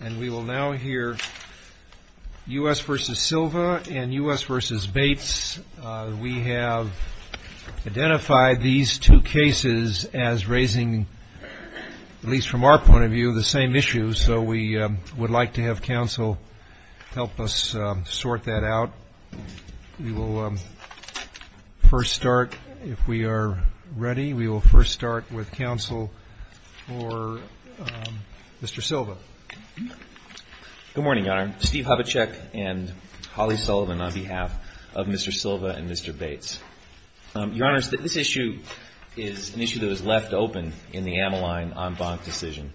And we will now hear U.S. v. Silva and U.S. v. Bates. We have identified these two cases as raising, at least from our point of view, the same issues, so we would like to have counsel help us sort that out. We will first start, if we are ready, we will first start with counsel for Mr. Silva. Steve Havacek Good morning, Your Honor. Steve Havacek and Holly Sullivan on behalf of Mr. Silva and Mr. Bates. Your Honor, this issue is an issue that was left open in the Ameline en banc decision.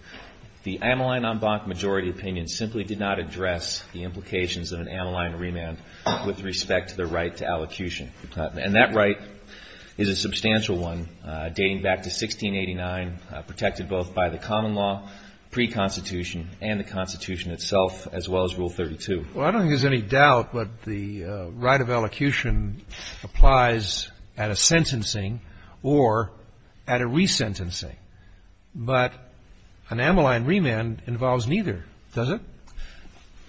The Ameline en banc majority opinion simply did not address the implications of an Ameline remand with respect to the right to allocution. And that right is a substantial one, dating back to 1689, protected both by the common law pre-Constitution and the Constitution itself, as well as Rule 32. Kennedy Well, I don't think there is any doubt that the right of allocution applies at a sentencing or at a resentencing. But an Ameline remand involves neither, does it?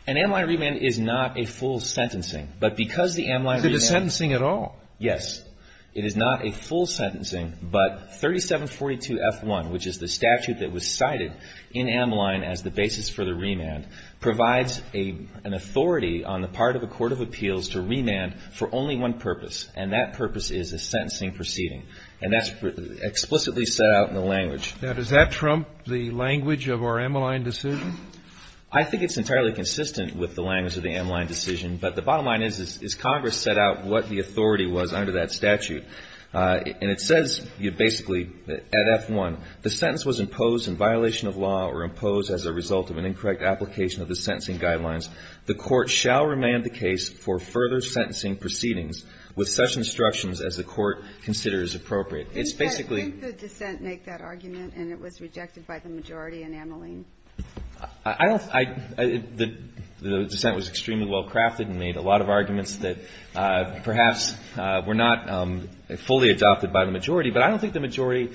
Havacek An Ameline remand is not a full sentencing. But because the Ameline remand Kennedy Is it a sentencing at all? Havacek Yes. It is not a full sentencing. But 3742F1, which is the statute that was cited in Ameline as the basis for the remand, provides an authority on the part of a court of appeals to remand for only one purpose. And that purpose is a sentencing proceeding. And that's explicitly set out in the language. Kennedy Now, does that trump the language of our Ameline decision? Havacek I think it's entirely consistent with the language of the Ameline decision. But the bottom line is, is Congress set out what the authority was under that statute. And it says basically at F1, the sentence was imposed in violation of law or imposed as a result of an incorrect application of the sentencing guidelines. The court shall remand the case for further sentencing proceedings with such instructions as the court considers appropriate. It's basically ---- Ginsburg Think the dissent made that argument and it was rejected by the majority in Ameline. Havacek I don't ---- the dissent was extremely well crafted and made a lot of arguments that perhaps were not fully adopted by the majority. But I don't think the majority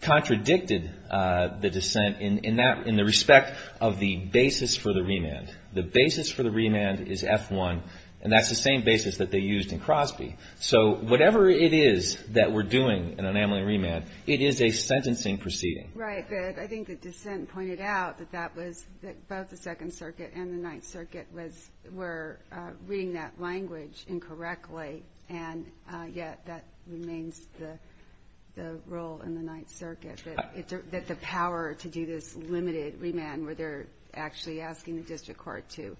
contradicted the dissent in that ---- in the respect of the basis for the remand. The basis for the remand is F1, and that's the same basis that they used in Crosby. So whatever it is that we're doing in Ameline remand, it is a sentencing proceeding. Ginsburg Right. But I think the dissent pointed out that that was the ---- both the Second Circuit and the Ninth Circuit was ---- were reading that language incorrectly, and yet that remains the role in the Ninth Circuit, that the power to do this limited remand where they're actually asking the district court to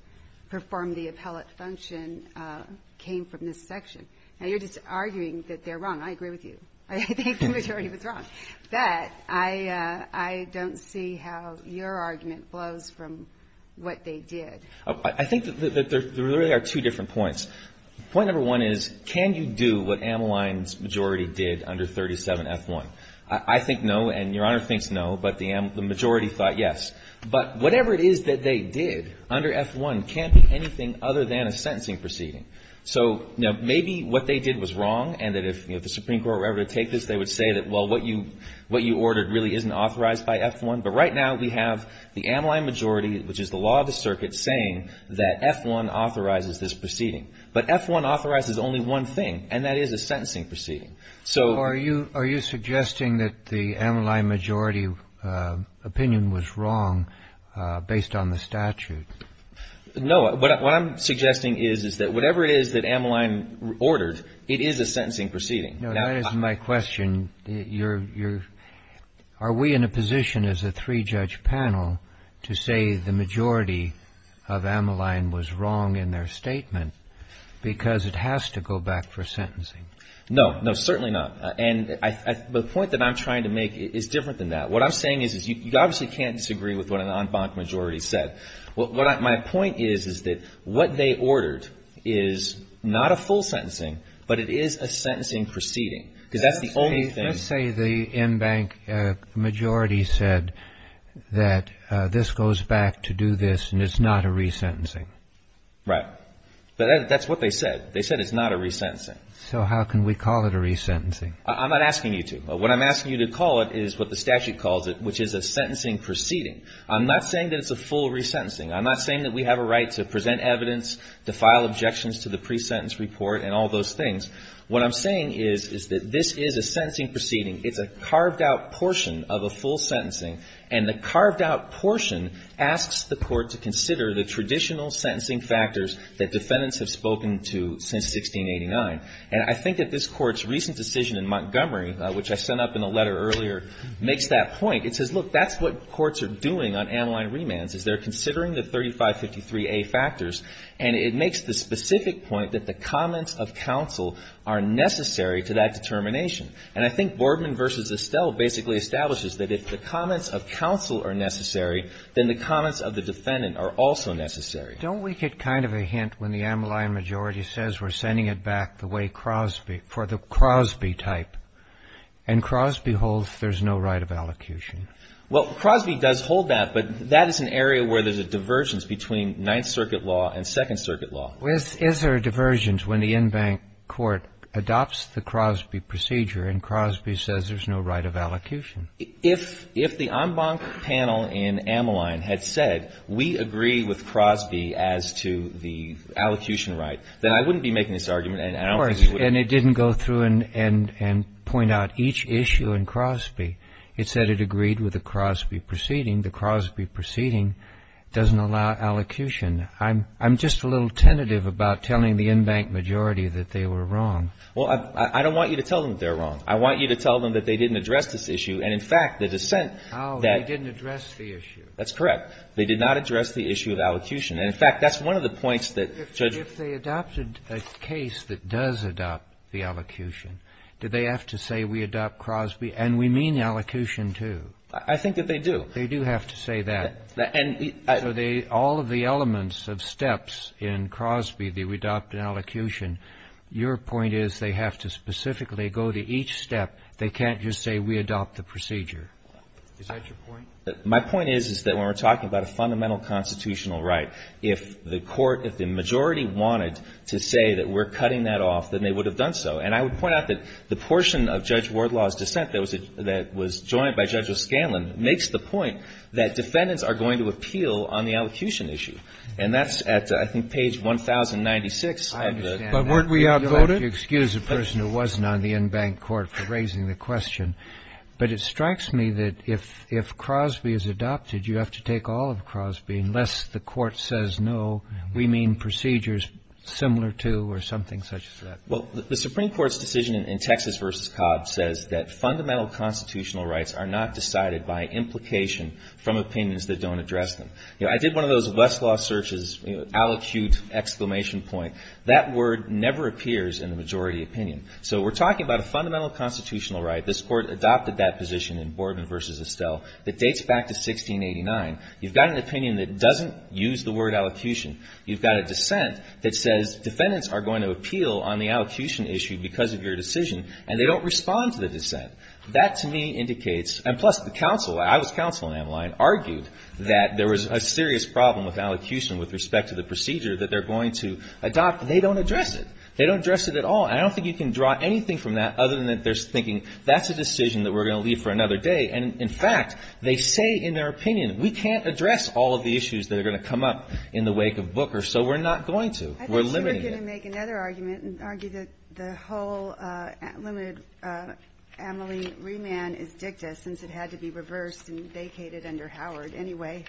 perform the appellate function came from this section. Now, you're just arguing that they're wrong. I agree with you. I think the majority was wrong. But I don't see how your argument flows from what they did. I think that there really are two different points. Point number one is, can you do what Ameline's majority did under 37F1? I think no, and Your Honor thinks no, but the majority thought yes. But whatever it is that they did under F1 can't be anything other than a sentencing proceeding. So, you know, maybe what they did was wrong, and that if the Supreme Court were ever to take this, they would say that, well, what you ordered really isn't authorized by F1. But right now, we have the Ameline majority, which is the law of the circuit, saying that F1 authorizes this proceeding. But F1 authorizes only one thing, and that is a sentencing proceeding. So ---- Kennedy So are you suggesting that the Ameline majority opinion was wrong based on the statute? No. What I'm suggesting is that whatever it is that Ameline ordered, it is a sentencing proceeding. Kennedy No, that is my question. Are we in a position as a three-judge panel to say the majority of Ameline was wrong in their statement because it has to go back for sentencing? No. No, certainly not. And the point that I'm trying to make is different than that. What I'm saying is, you obviously can't disagree with what an en banc majority said. What my point is, is that what they ordered is not a full sentencing, but it is a sentencing proceeding. Because that's the only thing ---- Kennedy Let's say the en banc majority said that this goes back to do this and it's not a resentencing. Right. But that's what they said. They said it's not a resentencing. Kennedy So how can we call it a resentencing? I'm not asking you to. What I'm asking you to call it is what the statute calls it, which is a sentencing proceeding. I'm not saying that it's a full resentencing. I'm not saying that we have a right to present evidence, to file objections to the pre-sentence report and all those things. What I'm saying is, is that this is a sentencing proceeding. It's a carved-out portion of a full sentencing. And the carved-out portion asks the Court to consider the traditional sentencing factors that defendants have spoken to since 1689. And I think that this Court's recent decision in Montgomery, which I sent up in a letter earlier, makes that point. It says, look, that's what courts are doing on Ammaline remands, is they're considering the 3553A factors. And it makes the specific point that the comments of counsel are necessary to that determination. And I think Boardman v. Estelle basically establishes that if the comments of counsel are necessary, then the comments of the defendant are also necessary. Roberts Don't we get kind of a hint when the Ammaline majority says we're sending it back the way Crosby, for the Crosby type, and Crosby holds there's no right of allocution? Jay Carr Well, Crosby does hold that, but that is an area where there's a divergence between Ninth Circuit law and Second Circuit law. Roberts Don't is there a divergence when the en banc court adopts the Crosby procedure and Crosby says there's no right of allocution? Jay Carr If the en banc panel in Ammaline had said, we agree with Crosby as to the argument, and I don't think you would have been able to do that. Roberts Don't Of course. And it didn't go through and point out each issue in Crosby. It said it agreed with the Crosby proceeding. The Crosby proceeding doesn't allow allocution. I'm just a little tentative about telling the en banc majority that they were wrong. Jay Carr Well, I don't want you to tell them they're wrong. I want you to tell them that they didn't address this issue. And, in fact, the dissent that they did not address the issue of allocution. And, in fact, that's one of the points that Judge — Roberts Don't So, in the case that does adopt the allocution, do they have to say we adopt Crosby? And we mean the allocution, too. Jay Carr I think that they do. Roberts Don't They do have to say that. Jay Carr And — Roberts Don't So, all of the elements of steps in Crosby, the adopt and allocution, your point is they have to specifically go to each step. They can't just say we adopt the procedure. Is that your point? Jay Carr My point is, is that when we're talking about a fundamental constitutional right, if the Court, if the majority wanted to say that we're cutting that off, then they would have done so. And I would point out that the portion of Judge Wardlaw's dissent that was — that was joined by Judge O'Scanlan makes the point that defendants are going to appeal on the allocution issue. And that's at, I think, page 1,096. Roberts I understand that. But weren't we outvoted? Kennedy You'll have to excuse the person who wasn't on the in-bank court for raising the question. But it strikes me that if — if Crosby is adopted, you have to take all of Crosby unless the Court says, no, we mean procedures similar to or something such as that. Jay Carr Well, the Supreme Court's decision in Texas v. Cobb says that fundamental constitutional rights are not decided by implication from opinions that don't address them. You know, I did one of those Westlaw searches, you know, allocute, exclamation point. That word never appears in the majority opinion. So we're talking about a fundamental constitutional right. This Court adopted that position in Borden v. Estelle that dates back to 1689. You've got an opinion that doesn't use the word allocution. You've got a dissent that says defendants are going to appeal on the allocution issue because of your decision, and they don't respond to the dissent. That, to me, indicates — and plus, the counsel, I was counsel in Ameline, argued that there was a serious problem with allocution with respect to the procedure that they're going to adopt. They don't address it. They don't address it at all. And I don't think you can draw anything from that other than that they're thinking that's a decision that we're going to leave for another day. And, in fact, they say in their opinion, we can't address all of the issues that are going to come up in the wake of Booker, so we're not going to. We're limiting it. I thought you were going to make another argument and argue that the whole limited Ameline remand is dicta, since it had to be reversed and vacated under Howard anyway,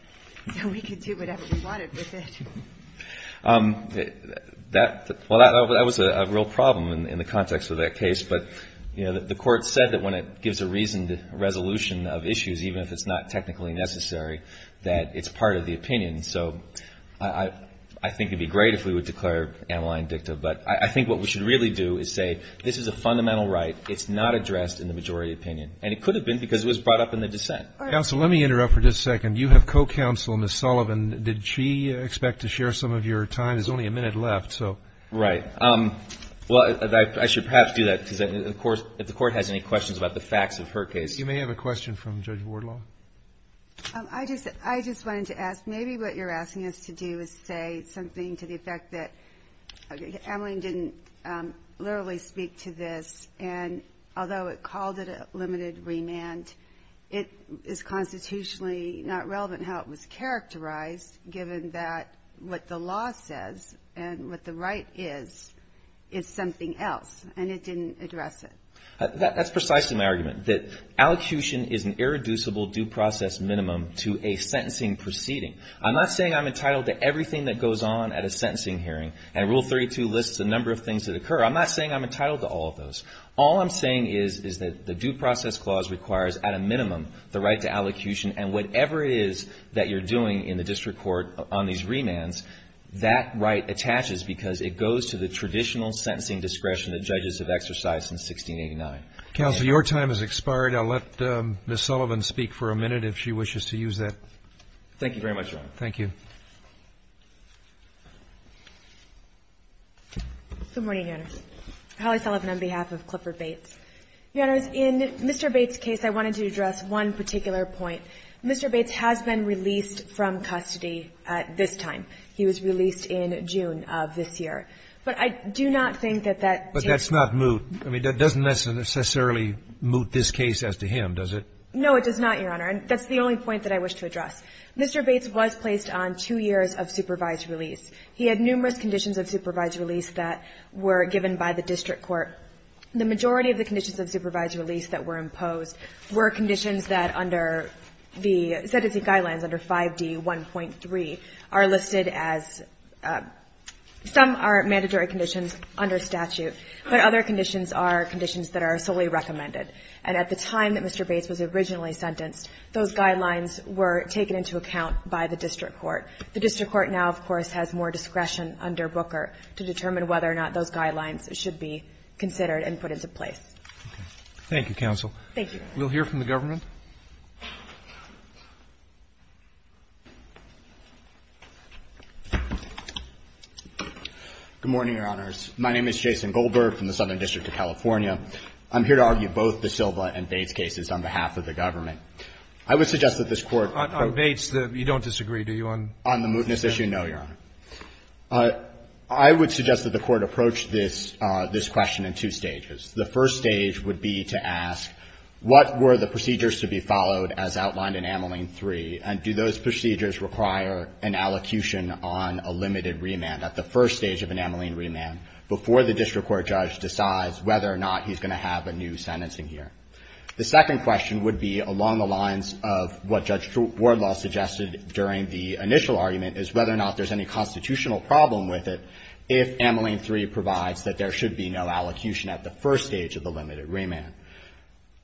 so we could do whatever we wanted with it. That — well, that was a real problem in the context of that case. But, you know, the Court said that when it gives a reasoned resolution of issues, even if it's not technically necessary, that it's part of the opinion. So I think it would be great if we would declare Ameline dicta. But I think what we should really do is say this is a fundamental right. It's not addressed in the majority opinion. And it could have been because it was brought up in the dissent. All right. Counsel, let me interrupt for just a second. You have co-counsel, Ms. Sullivan. Did she expect to share some of your time? There's only a minute left, so. Right. Well, I should perhaps do that because, of course, if the Court has any questions about the facts of her case. You may have a question from Judge Wardlaw. I just — I just wanted to ask, maybe what you're asking us to do is say something to the effect that Ameline didn't literally speak to this. And although it called it a limited remand, it is constitutionally not relevant how it was characterized, given that what the law says and what the right is, is something else, and it didn't address it. That's precisely my argument, that allocution is an irreducible due process minimum to a sentencing proceeding. I'm not saying I'm entitled to everything that goes on at a sentencing hearing. And Rule 32 lists a number of things that occur. I'm not saying I'm entitled to all of those. All I'm saying is, is that the Due Process Clause requires, at a minimum, the right to allocution. And whatever it is that you're doing in the district court on these remands, that right attaches because it goes to the traditional sentencing discretion that judges have exercised since 1689. Roberts. Counsel, your time has expired. I'll let Ms. Sullivan speak for a minute, if she wishes to use that. Thank you very much, Your Honor. Thank you. Good morning, Your Honors. Holly Sullivan on behalf of Clifford Bates. Your Honors, in Mr. Bates' case, I wanted to address one particular point. Mr. Bates has been released from custody at this time. He was released in June of this year. But I do not think that that takes place. But that's not moot. I mean, that doesn't necessarily moot this case as to him, does it? No, it does not, Your Honor. And that's the only point that I wish to address. Mr. Bates was placed on two years of supervised release. He had numerous conditions of supervised release that were given by the district court. The majority of the conditions of supervised release that were imposed were conditions that under the sentencing guidelines under 5D1.3 are listed as some are mandatory conditions under statute, but other conditions are conditions that are solely recommended. And at the time that Mr. Bates was originally sentenced, those guidelines were taken into account by the district court. The district court now, of course, has more discretion under Booker to determine whether or not those guidelines should be considered and put into place. Thank you, counsel. Thank you. We'll hear from the government. Good morning, Your Honors. My name is Jason Goldberg from the Southern District of California. I'm here to argue both the Silva and Bates cases on behalf of the government. I would suggest that this Court ---- On Bates, you don't disagree, do you? On the mootness issue, no, Your Honor. I would suggest that the Court approach this question in two stages. The first stage would be to ask what were the procedures to be followed as outlined in Ameline 3, and do those procedures require an allocution on a limited remand at the first stage of an Ameline remand before the district court judge decides whether or not he's going to have a new sentencing here. The second question would be along the lines of what Judge Wardlaw suggested during the initial argument is whether or not there's any constitutional problem with it if Ameline 3 provides that there should be no allocution at the first stage of the limited remand.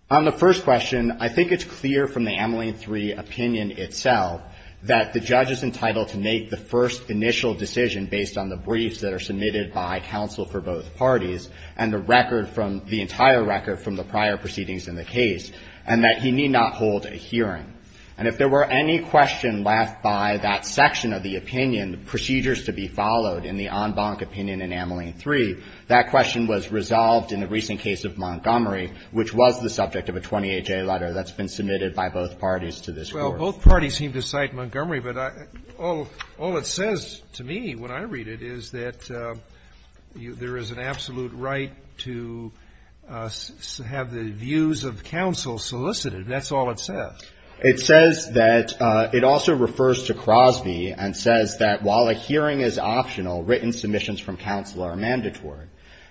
On the first question, I think it's clear from the Ameline 3 opinion itself that the judge is entitled to make the first initial decision based on the briefs that are submitted by counsel for both parties and the record from the entire record from the prior proceedings in the case, and that he need not hold a hearing. And if there were any question left by that section of the opinion, procedures to be followed in the en banc opinion in Ameline 3, that question was resolved in the recent case of Montgomery, which was the subject of a 28-J letter that's been submitted by both parties to this Court. Well, both parties seem to cite Montgomery, but all it says to me when I read it is that there is an absolute right to have the views of counsel solicited. That's all it says. It says that it also refers to Crosby and says that while a hearing is optional, written submissions from counsel are mandatory.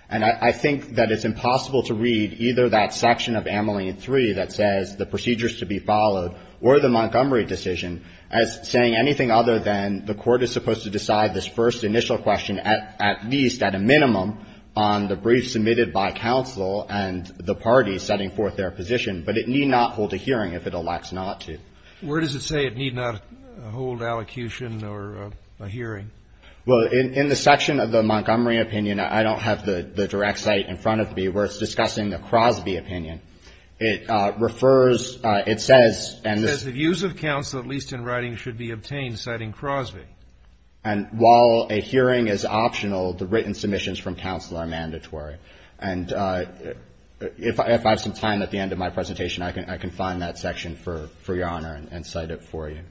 And I think that it's impossible to read either that section of Ameline 3 that says the procedures to be followed or the Montgomery decision as saying anything other than the Court is supposed to decide this first initial question at least at a minimum on the brief submitted by counsel and the parties setting forth their position. But it need not hold a hearing if it elects not to. Where does it say it need not hold allocution or a hearing? Well, in the section of the Montgomery opinion, I don't have the direct cite in front of me where it's discussing the Crosby opinion. It refers, it says, and this ---- And while a hearing is optional, the written submissions from counsel are mandatory. And if I have some time at the end of my presentation, I can find that section for your Honor and cite it for you.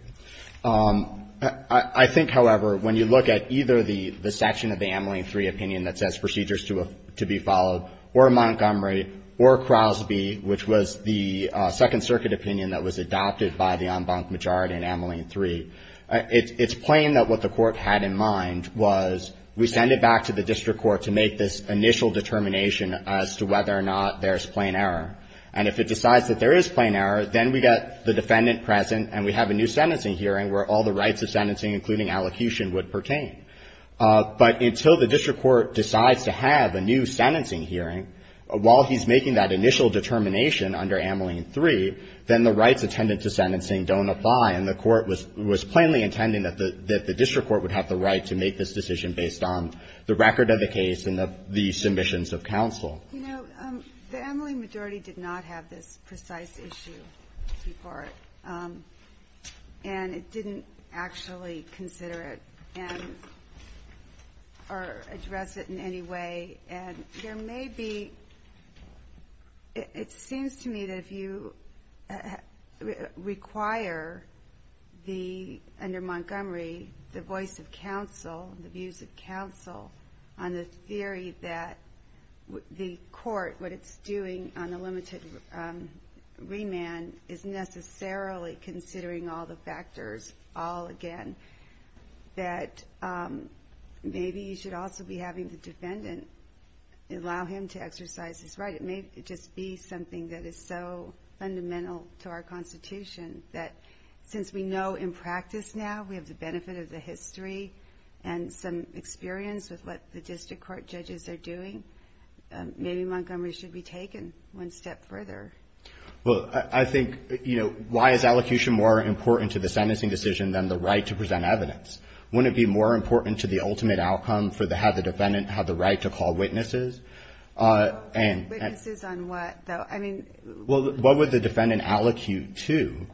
I think, however, when you look at either the section of the Ameline 3 opinion that says procedures to be followed or Montgomery or Crosby, which was the Second Circuit opinion that was adopted by the en banc majority in Ameline 3, it's plain that what the Court had in mind was we send it back to the district court to make this initial determination as to whether or not there's plain error. And if it decides that there is plain error, then we get the defendant present and we have a new sentencing hearing where all the rights of sentencing, including allocution, would pertain. But until the district court decides to have a new sentencing hearing, while he's making that initial determination under Ameline 3, then the rights attendant to sentencing don't apply. And the Court was plainly intending that the district court would have the right to make this decision based on the record of the case and the submissions of counsel. You know, the Ameline majority did not have this precise issue before it. And it didn't actually consider it and or address it in any way. And there may be, it seems to me that if you require the, under Montgomery, the voice of counsel, the views of counsel on the theory that the Court, what it's doing on the limited remand is necessarily considering all the allow him to exercise his right. It may just be something that is so fundamental to our Constitution that, since we know in practice now we have the benefit of the history and some experience with what the district court judges are doing, maybe Montgomery should be taken one step further. Well, I think, you know, why is allocution more important to the sentencing decision than the right to present evidence? Wouldn't it be more important to the ultimate outcome for the, to have the defendant have the right to call witnesses? Witnesses on what, though? I mean. Well, what would the defendant allocute to?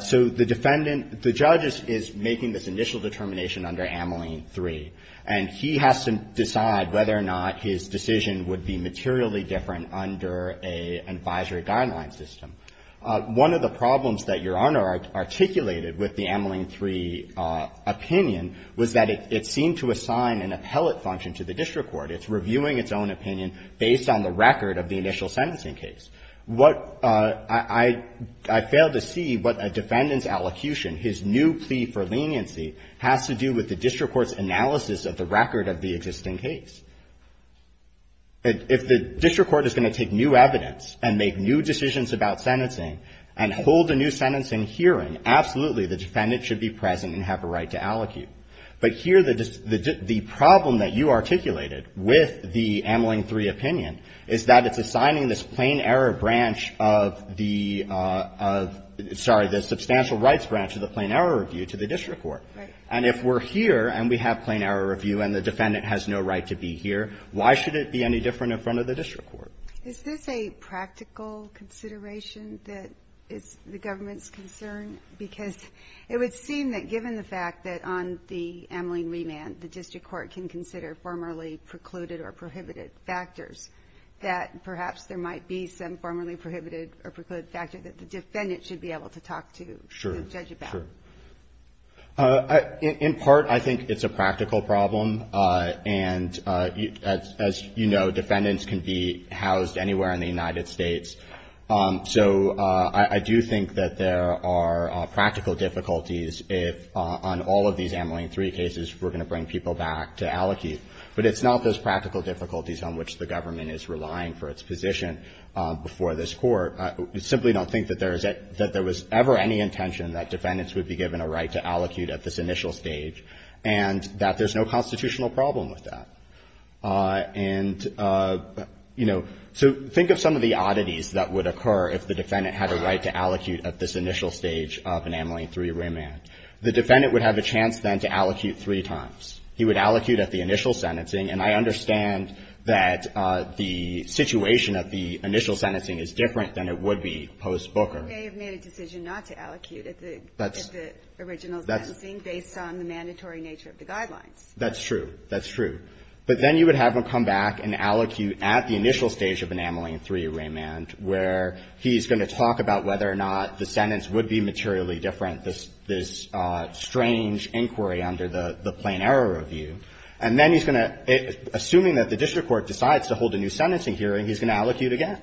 So the defendant, the judge is making this initial determination under Ameline 3. And he has to decide whether or not his decision would be materially different under an advisory guideline system. One of the problems that Your Honor articulated with the Ameline 3 opinion was that it seemed to assign an appellate function to the district court. It's reviewing its own opinion based on the record of the initial sentencing case. What I, I failed to see what a defendant's allocution, his new plea for leniency has to do with the district court's analysis of the record of the existing case. If the district court is going to take new evidence and make new decisions about sentencing and hold a new sentencing hearing, absolutely the defendant should be present and have a right to allocate. But here the problem that you articulated with the Ameline 3 opinion is that it's assigning this plain error branch of the, sorry, the substantial rights branch of the plain error review to the district court. And if we're here and we have plain error review and the defendant has no right to be here, why should it be any different in front of the district court? Is this a practical consideration that is the government's concern? Because it would seem that given the fact that on the Ameline remand, the district court can consider formerly precluded or prohibited factors, that perhaps there might be some formerly prohibited or precluded factor that the defendant should be able to talk to the judge about. Sure, sure. In part, I think it's a practical problem. And as you know, defendants can be housed anywhere in the United States. So I do think that there are practical difficulties if on all of these Ameline 3 cases we're going to bring people back to allocate. But it's not those practical difficulties on which the government is relying for its position before this Court. I simply don't think that there was ever any intention that defendants would be given a right to allocate at this initial stage and that there's no constitutional problem with that. And, you know, so think of some of the oddities that would occur if the defendant had a right to allocate at this initial stage of an Ameline 3 remand. The defendant would have a chance then to allocate three times. He would allocate at the initial sentencing. And I understand that the situation at the initial sentencing is different than it would be post-Booker. He may have made a decision not to allocate at the original sentencing based on the mandatory nature of the guidelines. That's true. That's true. But then you would have him come back and allocate at the initial stage of an Ameline 3 remand where he's going to talk about whether or not the sentence would be materially different, this strange inquiry under the Plain Error Review. And then he's going to, assuming that the district court decides to hold a new sentencing hearing, he's going to allocate again.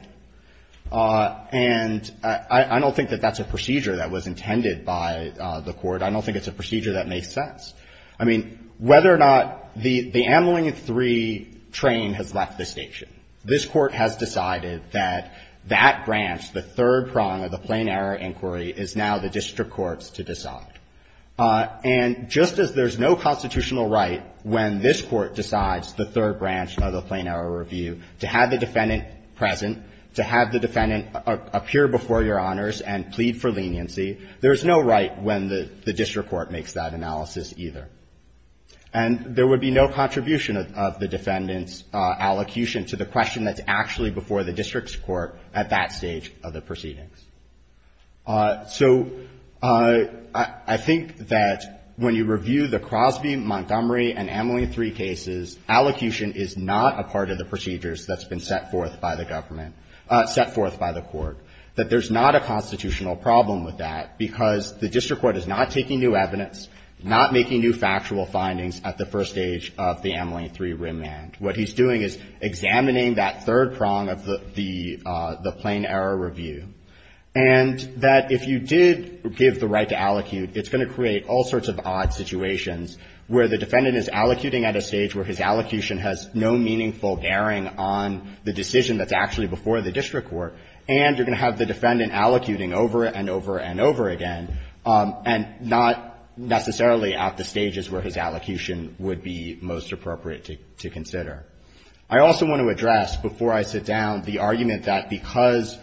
And I don't think that that's a procedure that was intended by the Court. I don't think it's a procedure that makes sense. I mean, whether or not the Ameline 3 train has left the station, this Court has decided that that branch, the third prong of the Plain Error Inquiry, is now the district court's to decide. And just as there's no constitutional right when this Court decides the third branch of the Plain Error Review to have the defendant present, to have the defendant appear before Your Honors and plead for leniency, there's no right when the district court makes that analysis either. And there would be no contribution of the defendant's allocution to the question that's actually before the district's court at that stage of the proceedings. So I think that when you review the Crosby, Montgomery, and Ameline 3 cases, allocation is not a part of the procedures that's been set forth by the government, set forth by the Court, that there's not a constitutional problem with that because the district court is not taking new evidence, not making new factual findings at the first stage of the Ameline 3 remand. What he's doing is examining that third prong of the Plain Error Review. And that if you did give the right to allocute, it's going to create all sorts of odd situations where the defendant is allocuting at a stage where his allocution has no meaningful bearing on the decision that's actually before the district court, and you're going to have the defendant allocuting over and over and over again and not necessarily at the stages where his allocation would be most appropriate to consider. I also want to address before I sit down the argument that because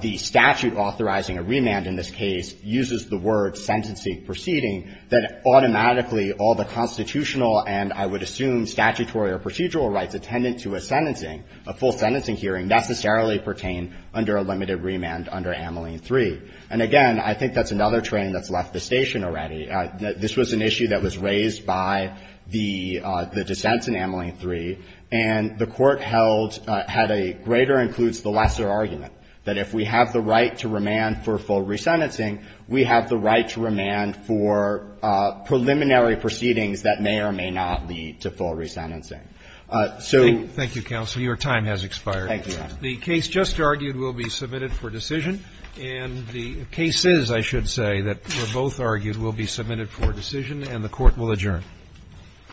the statute authorizing a remand in this case uses the word sentencing proceeding, that automatically all the constitutional and, I would assume, statutory or procedural rights attendant to a sentencing, a full sentencing hearing, necessarily pertain under a limited remand under Ameline 3. And again, I think that's another train that's left the station already. This was an issue that was raised by the dissents in Ameline 3, and the Court held at a greater includes the lesser argument, that if we have the right to remand for full resentencing, we have the right to remand for preliminary proceedings that may or may not lead to full resentencing. So the case just argued will be submitted for decision, and the cases, I should say, that were both argued will be submitted for decision, and the Court will adjourn.